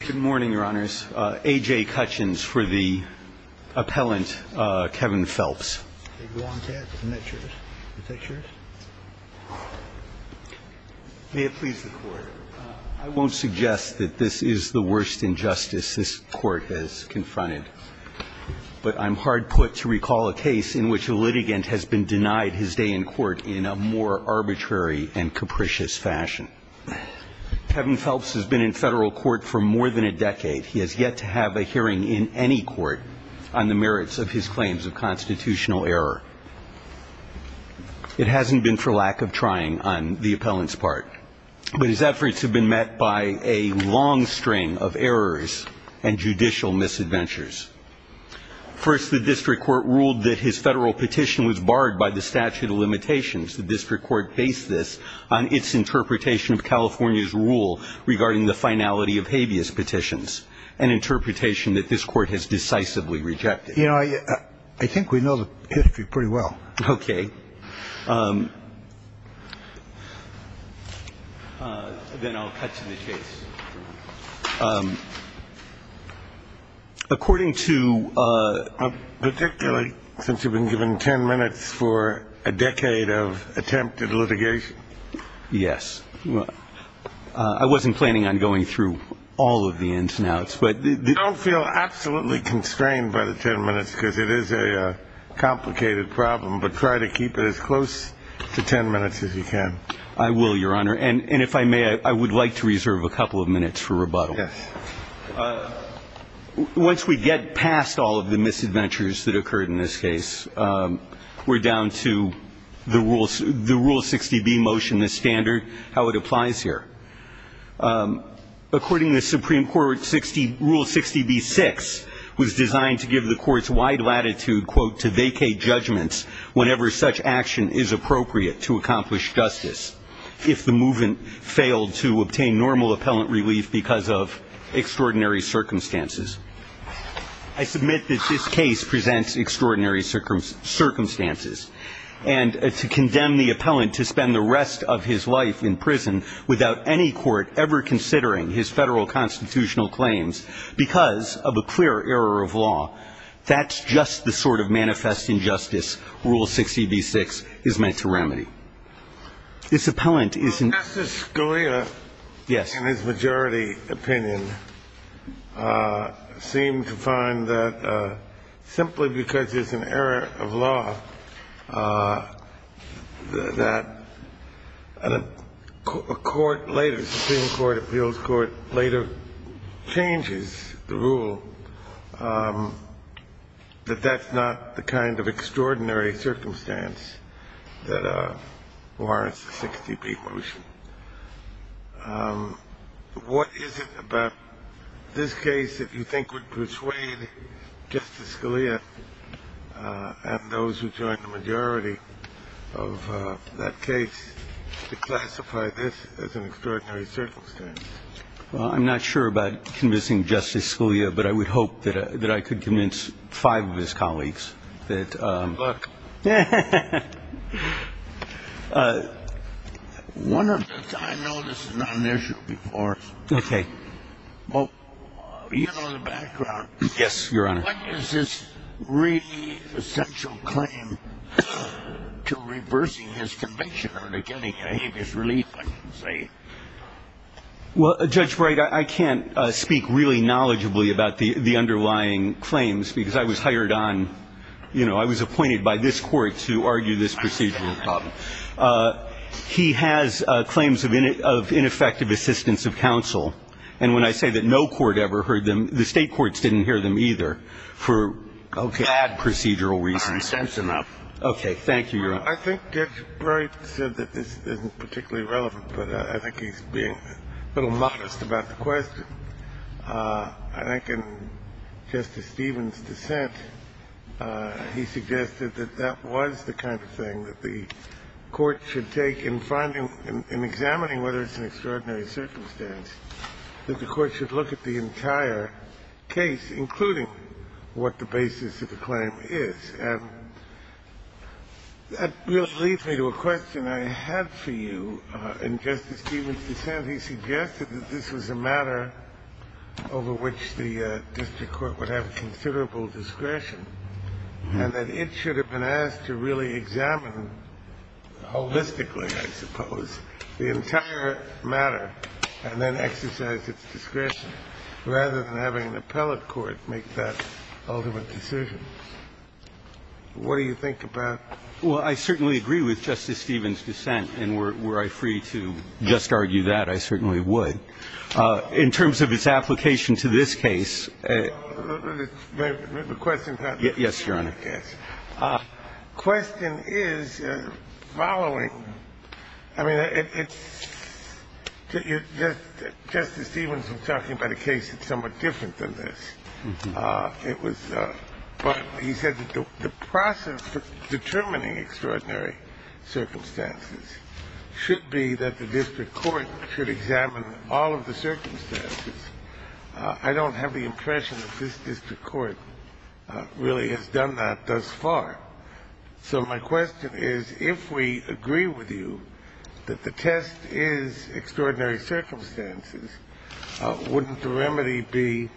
Good morning, Your Honors. A.J. Cutchins for the appellant, Kevin Phelps. May it please the Court. I won't suggest that this is the worst injustice this Court has confronted, but I'm hard put to recall a case in which a litigant has been denied his day in court in a more arbitrary and capricious fashion. Kevin Phelps has been in federal court for more than a decade. He has yet to have a hearing in any court on the merits of his claims of constitutional error. It hasn't been for lack of trying on the appellant's part, but his efforts have been met by a long string of errors and judicial misadventures. First, the district court ruled that his federal petition was barred by the statute of limitations. The district court based this on its interpretation of California's rule regarding the finality of habeas petitions, an interpretation that this Court has decisively rejected. You know, I think we know the history pretty well. OK. Then I'll cut to the chase. According to particularly since you've been given 10 minutes for a decade of attempted litigation. Yes. I wasn't planning on going through all of the ins and outs, but I don't feel absolutely constrained by the 10 minutes because it is a complicated problem. But try to keep it as close to 10 minutes as you can. I will, Your Honor. And if I may, I would like to reserve a couple of minutes for rebuttal. Yes. Once we get past all of the misadventures that occurred in this case, we're down to the rule 60B motion, the standard, how it applies here. According to the Supreme Court, Rule 60B-6 was designed to give the Court's wide latitude, quote, to vacate judgments whenever such action is appropriate to accomplish justice, if the movant failed to obtain normal appellant relief because of extraordinary circumstances. I submit that this case presents extraordinary circumstances. And to condemn the appellant to spend the rest of his life in prison without any court ever considering his federal constitutional claims because of a clear error of law. That's just the sort of manifest injustice Rule 60B-6 is meant to remedy. This appellant is an. Justice Scalia. Yes. In his majority opinion, seemed to find that simply because there's an error of law that a court later, Supreme Court Appeals Court later changes the rule that that's not the kind of extraordinary circumstance that warrants the 60B motion. What is it about this case that you think would persuade Justice Scalia and those who joined the majority of that case to classify this as an extraordinary circumstance? Well, I'm not sure about convincing Justice Scalia, but I would hope that I could convince five of his colleagues that. Good luck. One of the. I know this is not an issue before. Okay. Well, you know, in the background. Yes, Your Honor. What is this really essential claim to reversing his conviction or to getting a habeas relief, I should say? Well, Judge Bright, I can't speak really knowledgeably about the underlying claims because I was hired on, you know, I was appointed by this court to argue this procedural problem. He has claims of ineffective assistance of counsel. And when I say that no court ever heard them, the State courts didn't hear them either for bad procedural reasons. That's enough. Thank you, Your Honor. I think Judge Bright said that this isn't particularly relevant, but I think he's being a little modest about the question. I think in Justice Stevens' dissent, he suggested that that was the kind of thing that the court should take in finding and examining whether it's an extraordinary circumstance, that the court should look at the entire case, including what the basis of the claim is. And that really leads me to a question I had for you in Justice Stevens' dissent. He suggested that this was a matter over which the district court would have considerable discretion and that it should have been asked to really examine holistically, I suppose, the entire matter and then exercise its discretion rather than having an appellate court make that ultimate decision. What do you think about that? Well, I certainly agree with Justice Stevens' dissent. And were I free to just argue that, I certainly would. In terms of its application to this case. The question, Your Honor. Yes, Your Honor. Yes. The question is following. I mean, it's – Justice Stevens was talking about a case that's somewhat different than this. It was – but he said that the process for determining extraordinary circumstances should be that the district court should examine all of the circumstances. I don't have the impression that this district court really has done that thus far. So my question is, if we agree with you that the test is extraordinary circumstances, wouldn't the remedy be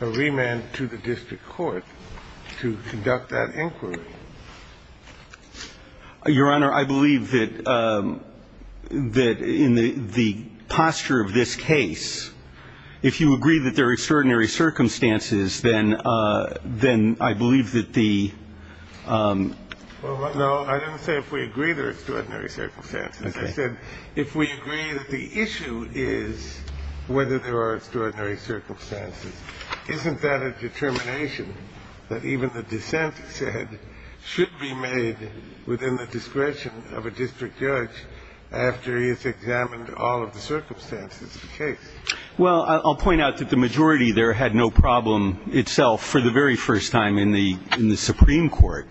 a remand to the district court to conduct that inquiry? Your Honor, I believe that in the posture of this case, if you agree that there are extraordinary circumstances, then I believe that the – Well, no, I didn't say if we agree there are extraordinary circumstances. I said if we agree that the issue is whether there are extraordinary circumstances, isn't that a determination that even the dissent said should be made within the discretion of a district judge after he has examined all of the circumstances of the case? Well, I'll point out that the majority there had no problem itself for the very first time in the Supreme Court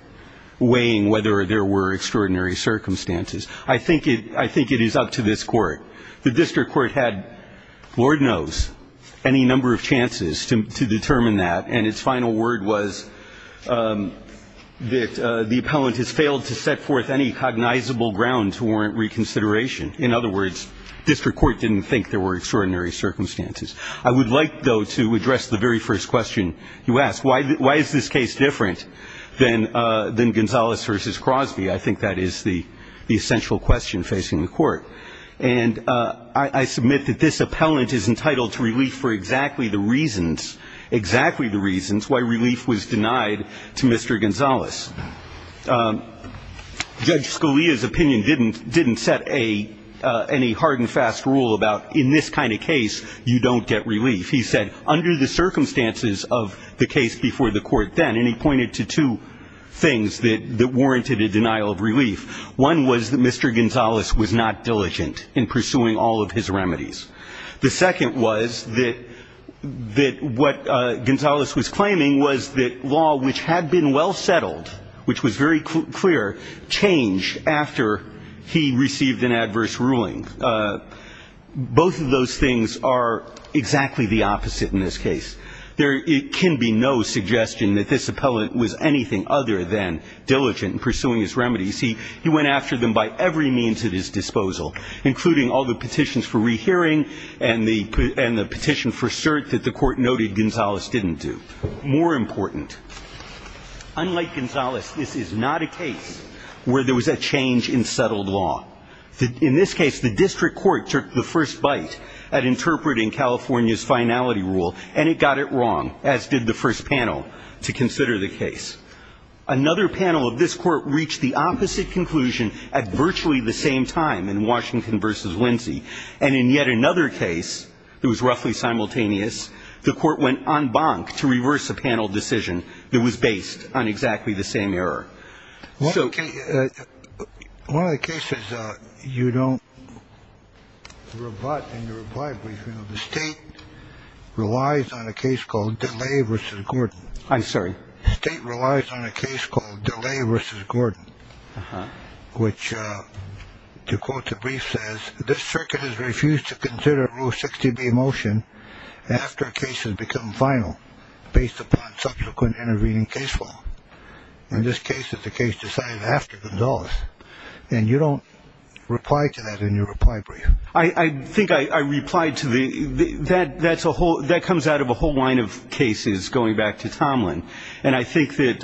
weighing whether there were extraordinary circumstances. I think it is up to this Court. The district court had, Lord knows, any number of chances to determine that, and its final word was that the appellant has failed to set forth any cognizable ground to warrant reconsideration. In other words, district court didn't think there were extraordinary circumstances. I would like, though, to address the very first question you asked. Why is this case different than Gonzales v. Crosby? I think that is the essential question facing the Court. And I submit that this appellant is entitled to relief for exactly the reasons, exactly the reasons why relief was denied to Mr. Gonzales. Judge Scalia's opinion didn't set any hard and fast rule about in this kind of case, you don't get relief. He said under the circumstances of the case before the Court then, and he pointed to two things that warranted a denial of relief. One was that Mr. Gonzales was not diligent in pursuing all of his remedies. The second was that what Gonzales was claiming was that law which had been well settled, which was very clear, changed after he received an adverse ruling. Both of those things are exactly the opposite in this case. There can be no suggestion that this appellant was anything other than diligent in pursuing his remedies. He went after them by every means at his disposal, including all the petitions for rehearing and the petition for cert that the Court noted Gonzales didn't do. More important, unlike Gonzales, this is not a case where there was a change in settled law. In this case, the district court took the first bite at interpreting California's finality rule, and it got it wrong, as did the first panel to consider the case. Another panel of this Court reached the opposite conclusion at virtually the same time in Washington v. Lindsay, and in yet another case that was roughly simultaneous, the Court went en banc to reverse a panel decision that was based on exactly the same error. So the case you don't rebut in your reply brief, you know, the State relies on a case called DeLay v. Gordon. I'm sorry? State relies on a case called DeLay v. Gordon, which, to quote the brief, says, this circuit has refused to consider Rule 60b motion after a case has become final based upon subsequent intervening case law. In this case, it's a case decided after Gonzales, and you don't reply to that in your reply brief. I think I replied to the ñ that comes out of a whole line of cases going back to Tomlin, and I think that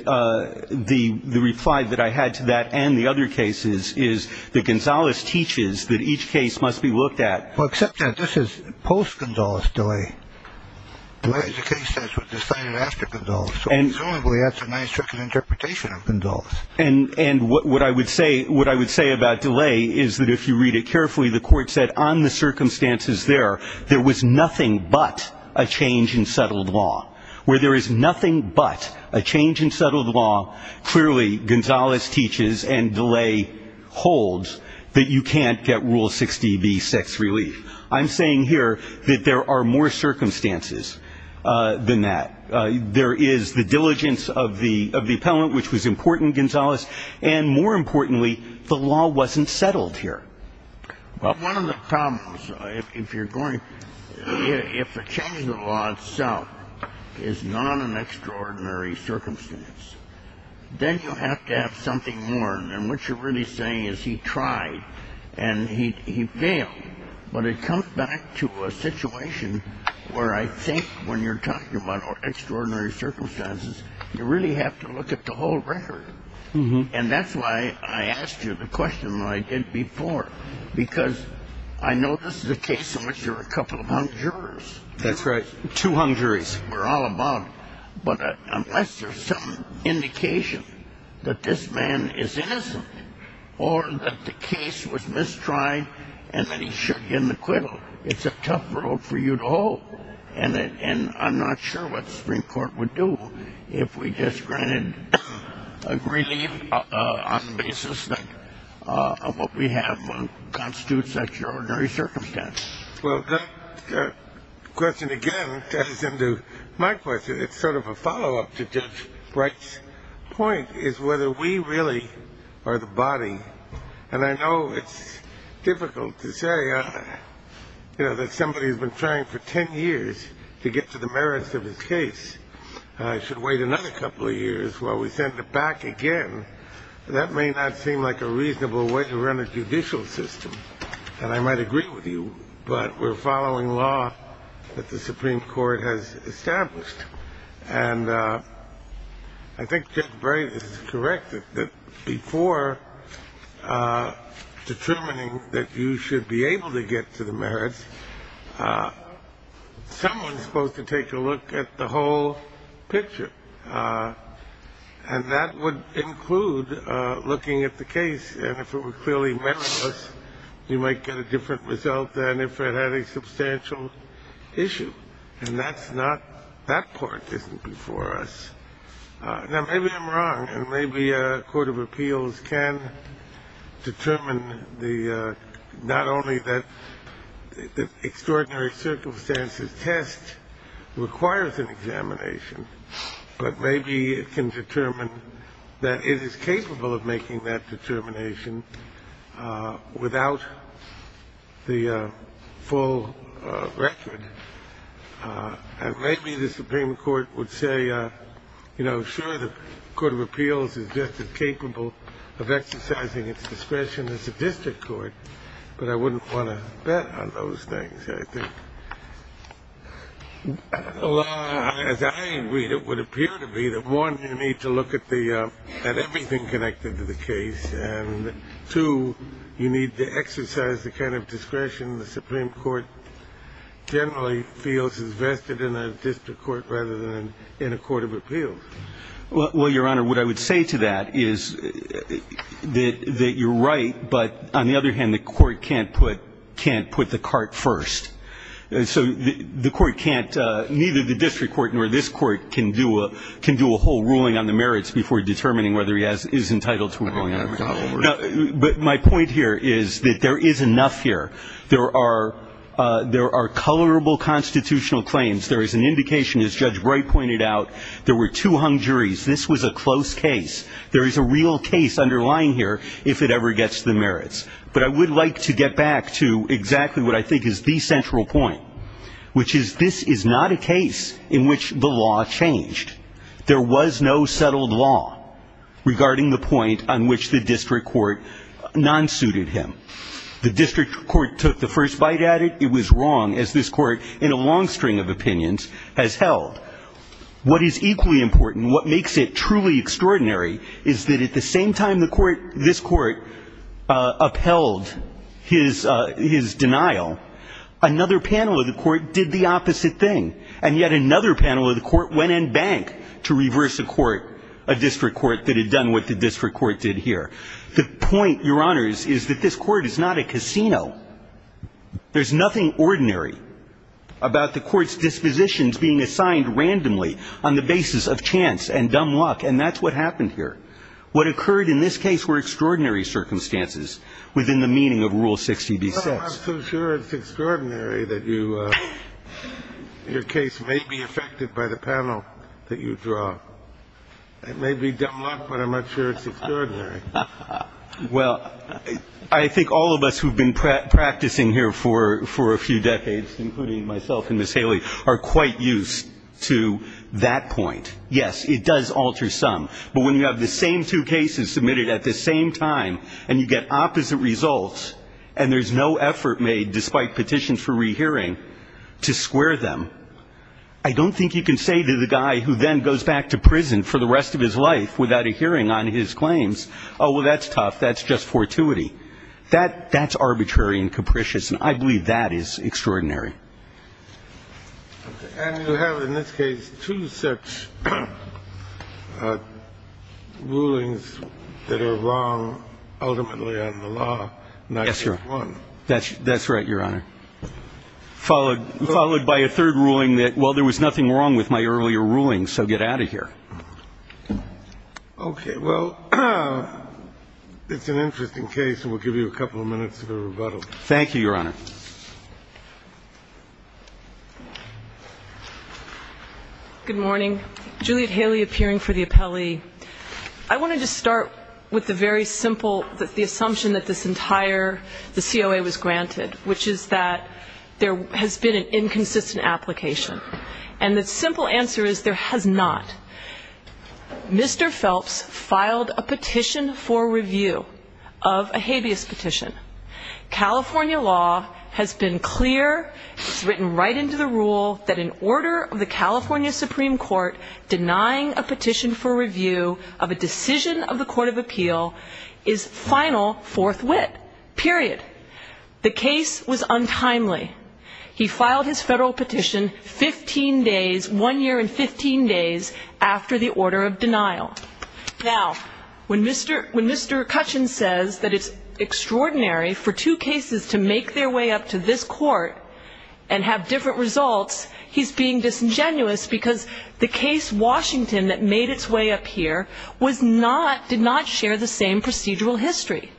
the reply that I had to that and the other cases is that Gonzales teaches that each case must be looked at. Well, except that this is post-Gonzales DeLay. DeLay is a case that was decided after Gonzales, so presumably that's a nice trick of interpretation of Gonzales. And what I would say ñ what I would say about DeLay is that if you read it carefully, the Court said on the circumstances there, there was nothing but a change in settled law. Where there is nothing but a change in settled law, clearly Gonzales teaches and DeLay holds that you can't get Rule 60b, sex relief. I'm saying here that there are more circumstances than that. There is the diligence of the appellant, which was important, Gonzales. And more importantly, the law wasn't settled here. Well, one of the problems, if you're going ñ if a change in the law itself is not an extraordinary circumstance, then you have to have something more. And what you're really saying is he tried and he failed. But it comes back to a situation where I think when you're talking about extraordinary circumstances, you really have to look at the whole record. And that's why I asked you the question I did before, because I know this is a case in which there are a couple of hung jurors. That's right, two hung juries. We're all about it. But unless there's some indication that this man is innocent or that the case was mistried and that he should get an acquittal, it's a tough road for you to hoe. And I'm not sure what the Supreme Court would do if we just granted a relief on the basis of what we have, constitutes such an ordinary circumstance. Well, that question again ties into my question. It's sort of a follow-up to Judge Bright's point, is whether we really are the body. And I know it's difficult to say that somebody who's been trying for 10 years to get to the merits of his case should wait another couple of years while we send it back again. That may not seem like a reasonable way to run a judicial system. And I might agree with you, but we're following law that the Supreme Court has established. And I think Judge Bright is correct that before determining that you should be able to get to the merits, someone's supposed to take a look at the whole picture. And that would include looking at the case. And if it were clearly meritless, you might get a different result than if it had a substantial issue. And that's not – that part isn't before us. Now, maybe I'm wrong, and maybe a court of appeals can determine the – but maybe it can determine that it is capable of making that determination without the full record. And maybe the Supreme Court would say, you know, sure, the court of appeals is just as capable of exercising its discretion as the district court, but I wouldn't want to bet on those things, I think. Well, as I agree, it would appear to be that, one, you need to look at the – at everything connected to the case, and, two, you need to exercise the kind of discretion the Supreme Court generally feels is vested in a district court rather than in a court of appeals. Well, Your Honor, what I would say to that is that you're right, but on the other hand, the court can't put – can't put the cart first. So the court can't – neither the district court nor this court can do a – can do a whole ruling on the merits before determining whether he has – is entitled to a ruling on it. But my point here is that there is enough here. There are – there are colorable constitutional claims. There is an indication, as Judge Bright pointed out, there were two hung juries. This was a close case. There is a real case underlying here if it ever gets the merits. But I would like to get back to exactly what I think is the central point, which is this is not a case in which the law changed. There was no settled law regarding the point on which the district court non-suited him. The district court took the first bite at it. It was wrong, as this court, in a long string of opinions, has held. What is equally important, what makes it truly extraordinary, is that at the same time the court – this court upheld his – his denial, another panel of the court did the opposite thing. And yet another panel of the court went and banked to reverse a court, a district court that had done what the district court did here. The point, Your Honors, is that this court is not a casino. There's nothing ordinary about the court's dispositions being assigned randomly on the basis of chance and dumb luck. And that's what happened here. What occurred in this case were extraordinary circumstances within the meaning of Rule 60b-6. Kennedy, I'm not so sure it's extraordinary that you – your case may be affected by the panel that you draw. It may be dumb luck, but I'm not sure it's extraordinary. Well, I think all of us who have been practicing here for a few decades, including myself and Ms. Haley, are quite used to that point. Yes, it does alter some. But when you have the same two cases submitted at the same time and you get opposite results and there's no effort made, despite petitions for rehearing, to square them, I don't think you can say to the guy who then goes back to prison for the rest of his life without a hearing on his claims, oh, well, that's tough, that's just fortuity. That's arbitrary and capricious, and I believe that is extraordinary. And you have in this case two such rulings that are wrong ultimately on the law. Yes, Your Honor. Not just one. That's right, Your Honor. Followed by a third ruling that, well, there was nothing wrong with my earlier rulings, so get out of here. Okay. Well, it's an interesting case, and we'll give you a couple of minutes for rebuttal. Thank you, Your Honor. Thank you. Good morning. Juliet Haley appearing for the appellee. I wanted to start with the very simple assumption that this entire COA was granted, which is that there has been an inconsistent application. And the simple answer is there has not. Mr. Phelps filed a petition for review of a habeas petition. California law has been clear, written right into the rule, that an order of the California Supreme Court denying a petition for review of a decision of the court of appeal is final fourth wit, period. The case was untimely. He filed his federal petition 15 days, one year and 15 days, after the order of denial. Now, when Mr. Cutchin says that it's extraordinary for two cases to make their way up to this court and have different results, he's being disingenuous because the case Washington that made its way up here was not, did not share the same procedural history.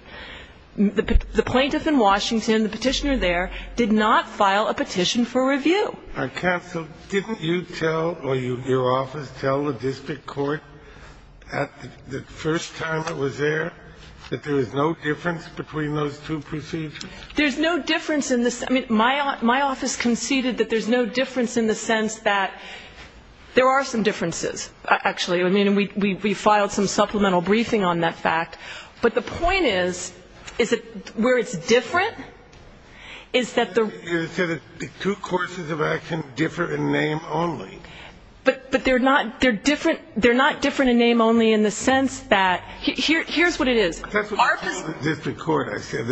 The plaintiff in Washington, the petitioner there, did not file a petition for review. So counsel, didn't you tell, or your office tell the district court at the first time it was there that there was no difference between those two procedures? There's no difference in the, I mean, my office conceded that there's no difference in the sense that there are some differences, actually. I mean, we filed some supplemental briefing on that fact. But the point is, is that where it's different is that the two courses of action differ in name only. But they're not different in name only in the sense that, here's what it is. That's what you told the district court, I said.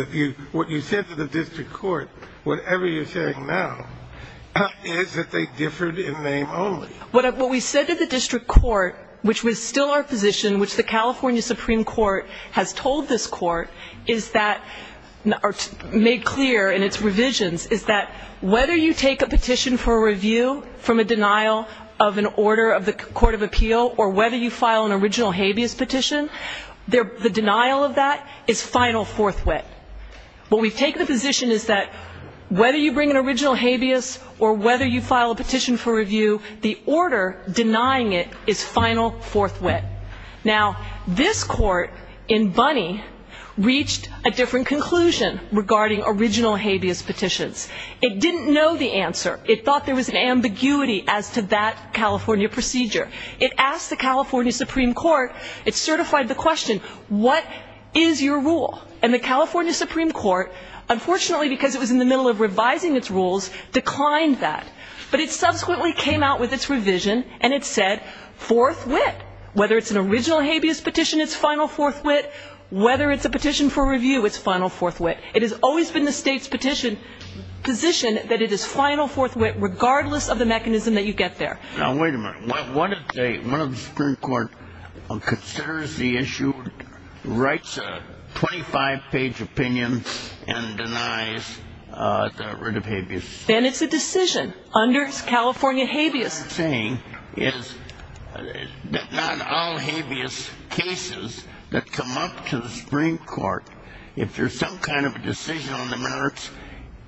What you said to the district court, whatever you're saying now, is that they differed in name only. What we said to the district court, which was still our position, which the California Supreme Court has told this court, is that, or made clear in its revisions, is that whether you take a petition for review from a denial of an order of the court of appeal, or whether you file an original habeas petition, the denial of that is final forthwith. What we've taken a position is that whether you bring an original habeas, or whether you file a petition for review, the order denying it is final forthwith. Now, this court in Bunny reached a different conclusion regarding original habeas petitions. It didn't know the answer. It thought there was an ambiguity as to that California procedure. It asked the California Supreme Court, it certified the question, what is your rule? And the California Supreme Court, unfortunately, because it was in the middle of revising its rules, declined that. But it subsequently came out with its revision, and it said forthwith, whether it's an original habeas petition, it's final forthwith, whether it's a petition for review, it's final forthwith. It has always been the state's position that it is final forthwith, regardless of the mechanism that you get there. Now, wait a minute. What if the Supreme Court considers the issue, writes a 25-page opinion, and denies the writ of habeas? Then it's a decision under California habeas. What I'm saying is that not all habeas cases that come up to the Supreme Court, if there's some kind of a decision on the merits,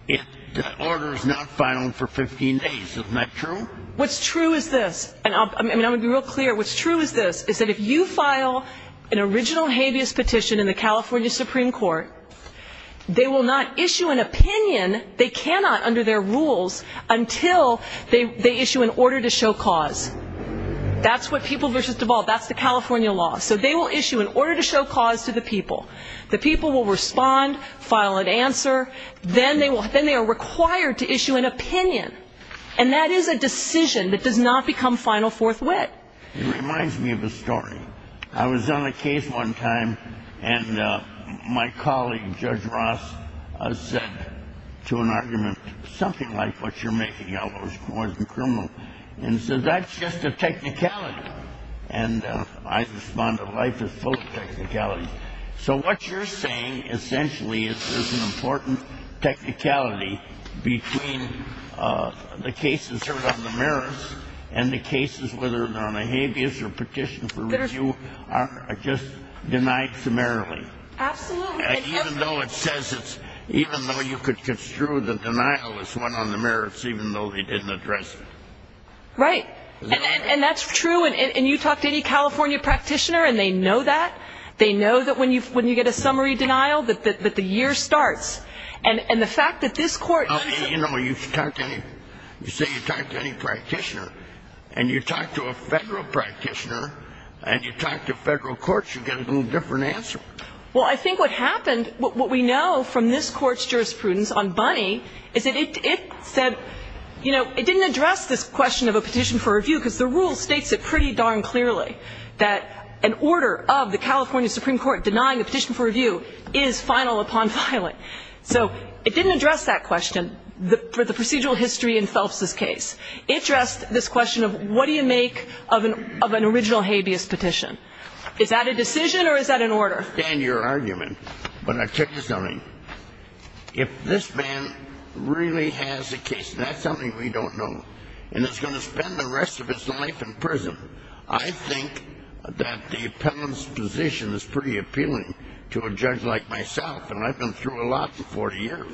the order is not final for 15 days. Isn't that true? What's true is this, and I'm going to be real clear. What's true is this, is that if you file an original habeas petition in the California Supreme Court, they will not issue an opinion, they cannot under their rules, until they issue an order to show cause. That's what people versus devolve, that's the California law. So they will issue an order to show cause to the people. The people will respond, file an answer, then they are required to issue an opinion. And that is a decision that does not become final forthwith. It reminds me of a story. I was on a case one time, and my colleague, Judge Ross, said to an argument, something like, what you're making out of it was more than criminal. And he said, that's just a technicality. And I responded, life is full of technicalities. So what you're saying, essentially, is there's an important technicality between the cases heard on the merits and the cases, whether they're on a habeas or petition for review, are just denied summarily. Absolutely. Even though it says it's, even though you could construe the denial as one on the merits, even though they didn't address it. Right. And that's true. And you talk to any California practitioner, and they know that. They know that when you get a summary denial, that the year starts. And the fact that this court. You know, you talk to any, you say you talk to any practitioner, and you talk to a Federal practitioner, and you talk to Federal courts, you get a little different answer. Well, I think what happened, what we know from this court's jurisprudence on Bunny, is that it said, you know, it didn't address this question of a petition for review, because the rule states it pretty darn clearly, that an order of the California Supreme Court denying a petition for review is final upon filing. So it didn't address that question for the procedural history in Phelps's case. It addressed this question of what do you make of an original habeas petition. Is that a decision, or is that an order? I understand your argument, but I'll tell you something. If this man really has a case, and that's something we don't know, and is going to spend the rest of his life in prison, I think that the appellant's position is pretty appealing to a judge like myself. And I've been through a lot in 40 years.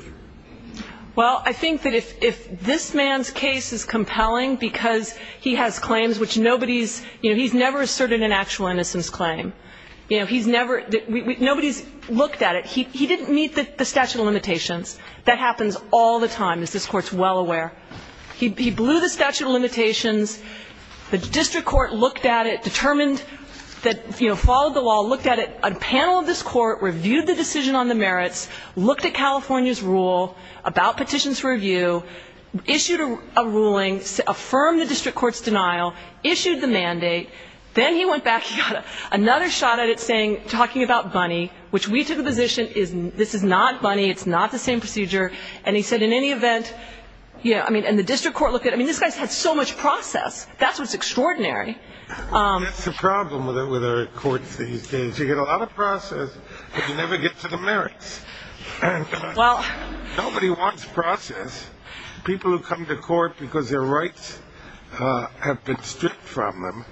Well, I think that if this man's case is compelling because he has claims which nobody's, you know, he's never asserted an actual innocence claim. You know, he's never, nobody's looked at it. He didn't meet the statute of limitations. That happens all the time, as this Court's well aware. He blew the statute of limitations. The district court looked at it, determined that, you know, followed the law, looked at it, a panel of this Court reviewed the decision on the merits, looked at California's rule about petitions for review, issued a ruling, affirmed the district court's denial, issued the mandate. Then he went back. He got another shot at it saying, talking about Bunny, which we took a position, this is not Bunny, it's not the same procedure. And he said in any event, you know, I mean, and the district court looked at it. I mean, this guy's had so much process. That's what's extraordinary. That's the problem with our courts these days. You get a lot of process, but you never get to the merits. Well. Nobody wants process. People who come to court because their rights have been stripped from them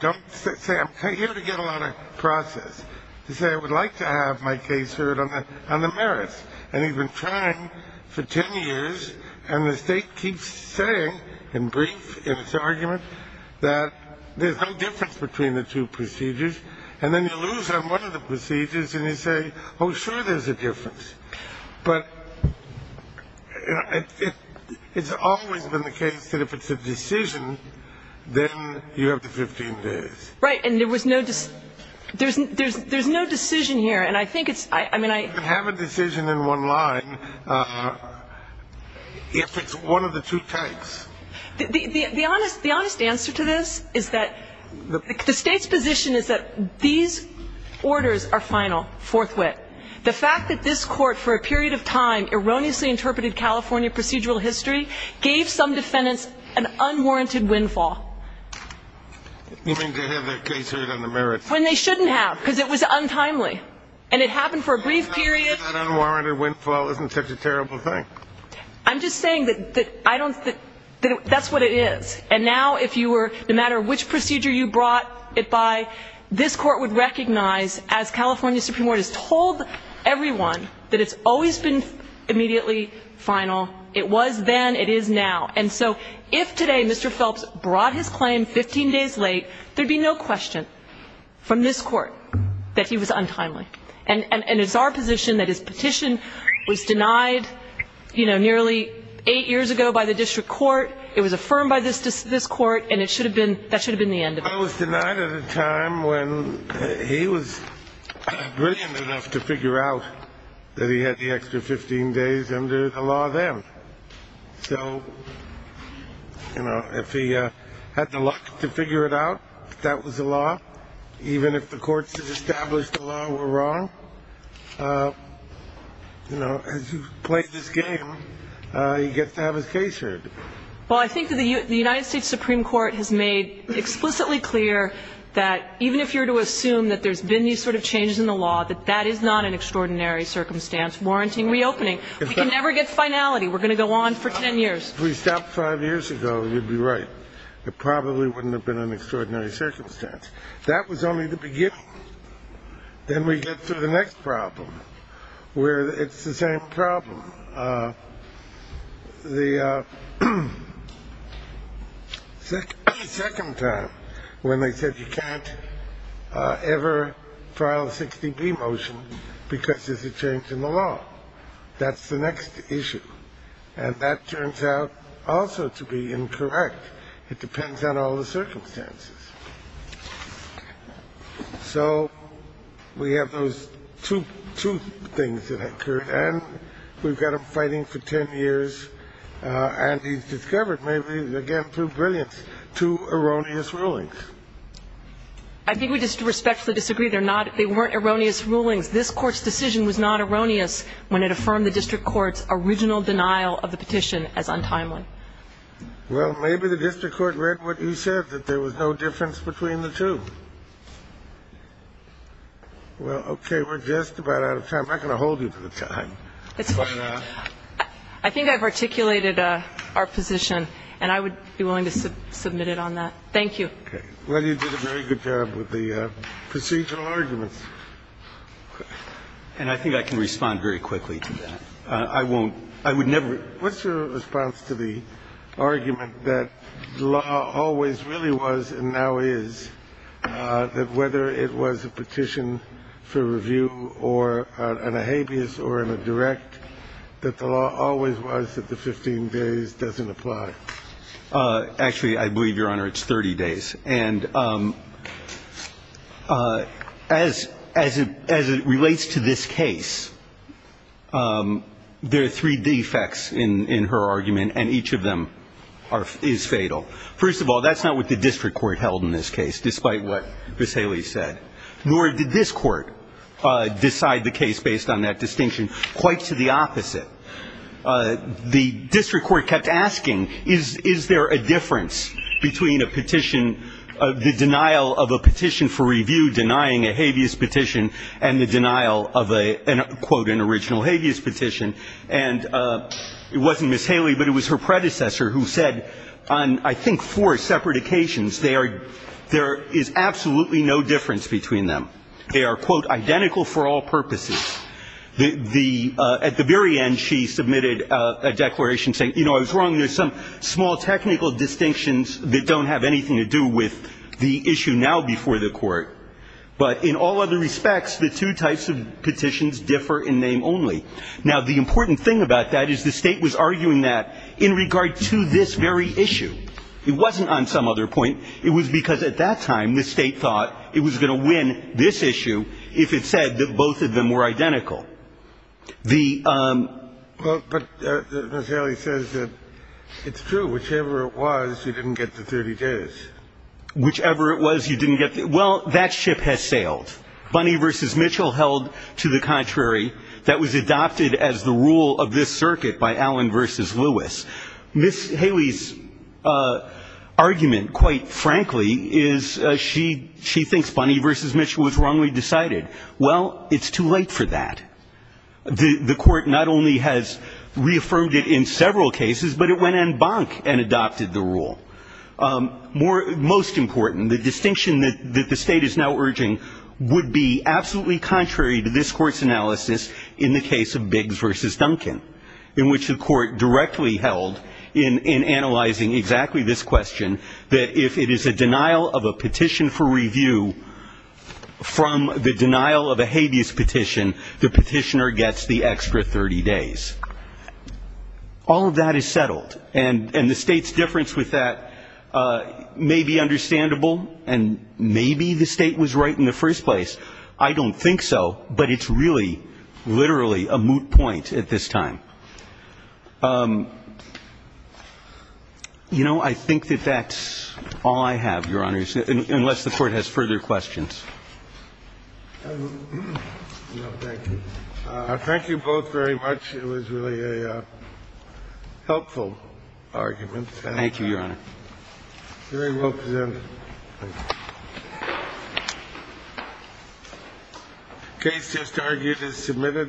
don't say, I'm here to get a lot of process. They say, I would like to have my case heard on the merits. And they've been trying for 10 years. And the state keeps saying, in brief, in its argument, that there's no difference between the two procedures. And then you lose on one of the procedures and you say, oh, sure, there's a difference. But it's always been the case that if it's a decision, then you have to 15 days. Right. And there was no decision. There's no decision here. And I think it's, I mean, I. You can have a decision in one line if it's one of the two types. The honest answer to this is that the state's position is that these orders are final, forthwith. The fact that this court, for a period of time, erroneously interpreted California procedural history gave some defendants an unwarranted windfall. You mean to have their case heard on the merits. When they shouldn't have because it was untimely. And it happened for a brief period. That unwarranted windfall isn't such a terrible thing. I'm just saying that that's what it is. And now if you were, no matter which procedure you brought it by, this court would recognize, as California Supreme Court has told everyone, that it's always been immediately final. It was then. It is now. And so if today Mr. Phelps brought his claim 15 days late, there'd be no question from this court that he was untimely. And it's our position that his petition was denied, you know, nearly eight years ago by the district court. It was affirmed by this court. And it should have been, that should have been the end of it. I was denied at a time when he was brilliant enough to figure out that he had the extra 15 days under the law then. So, you know, if he had the luck to figure it out that that was the law, even if the courts had established the law were wrong, you know, as you play this game, he gets to have his case heard. Well, I think the United States Supreme Court has made explicitly clear that even if you were to assume that there's been these sort of changes in the law, that that is not an extraordinary circumstance warranting reopening. We can never get finality. We're going to go on for 10 years. If we stopped five years ago, you'd be right. It probably wouldn't have been an extraordinary circumstance. That was only the beginning. Then we get to the next problem where it's the same problem. The second time when they said you can't ever file a 60B motion because there's a change in the law. That's the next issue. And that turns out also to be incorrect. It depends on all the circumstances. So we have those two things that occurred. And we've got him fighting for 10 years. And he's discovered maybe, again, through brilliance, two erroneous rulings. I think we just respectfully disagree. They're not they weren't erroneous rulings. This Court's decision was not erroneous when it affirmed the district court's original denial of the petition as untimely. Well, maybe the district court read what he said, that there was no difference between the two. Well, okay, we're just about out of time. I'm not going to hold you to the time. I think I've articulated our position, and I would be willing to submit it on that. Thank you. Okay. Well, you did a very good job with the procedural arguments. And I think I can respond very quickly to that. I won't. I would never. What's your response to the argument that the law always really was and now is that whether it was a petition for review or in a habeas or in a direct, that the law always was that the 15 days doesn't apply? Actually, I believe, Your Honor, it's 30 days. And as it relates to this case, there are three defects in her argument, and each of them is fatal. First of all, that's not what the district court held in this case, despite what Ms. Haley said. Nor did this court decide the case based on that distinction. Quite to the opposite. The district court kept asking, is there a difference between a petition, the denial of a petition for review denying a habeas petition and the denial of a, quote, an original habeas petition? And it wasn't Ms. Haley, but it was her predecessor who said on, I think, four separate occasions, there is absolutely no difference between them. They are, quote, identical for all purposes. At the very end, she submitted a declaration saying, you know, I was wrong. There's some small technical distinctions that don't have anything to do with the issue now before the court. But in all other respects, the two types of petitions differ in name only. Now, the important thing about that is the State was arguing that in regard to this very issue. It wasn't on some other point. It was because at that time the State thought it was going to win this issue if it said that both of them were identical. The ---- But Ms. Haley says that it's true. Whichever it was, you didn't get the 30 days. Whichever it was, you didn't get the ---- well, that ship has sailed. Bunny v. Mitchell held to the contrary. That was adopted as the rule of this circuit by Allen v. Lewis. Ms. Haley's argument, quite frankly, is she thinks Bunny v. Mitchell was wrongly decided. Well, it's too late for that. The Court not only has reaffirmed it in several cases, but it went en banc and adopted the rule. Most important, the distinction that the State is now urging would be absolutely contrary to this Court's analysis in the case of Biggs v. in analyzing exactly this question, that if it is a denial of a petition for review from the denial of a habeas petition, the petitioner gets the extra 30 days. All of that is settled, and the State's difference with that may be understandable, and maybe the State was right in the first place. I don't think so, but it's really, literally a moot point at this time. You know, I think that that's all I have, Your Honors, unless the Court has further questions. No, thank you. Thank you both very much. It was really a helpful argument. Thank you, Your Honor. Very well presented. Thank you.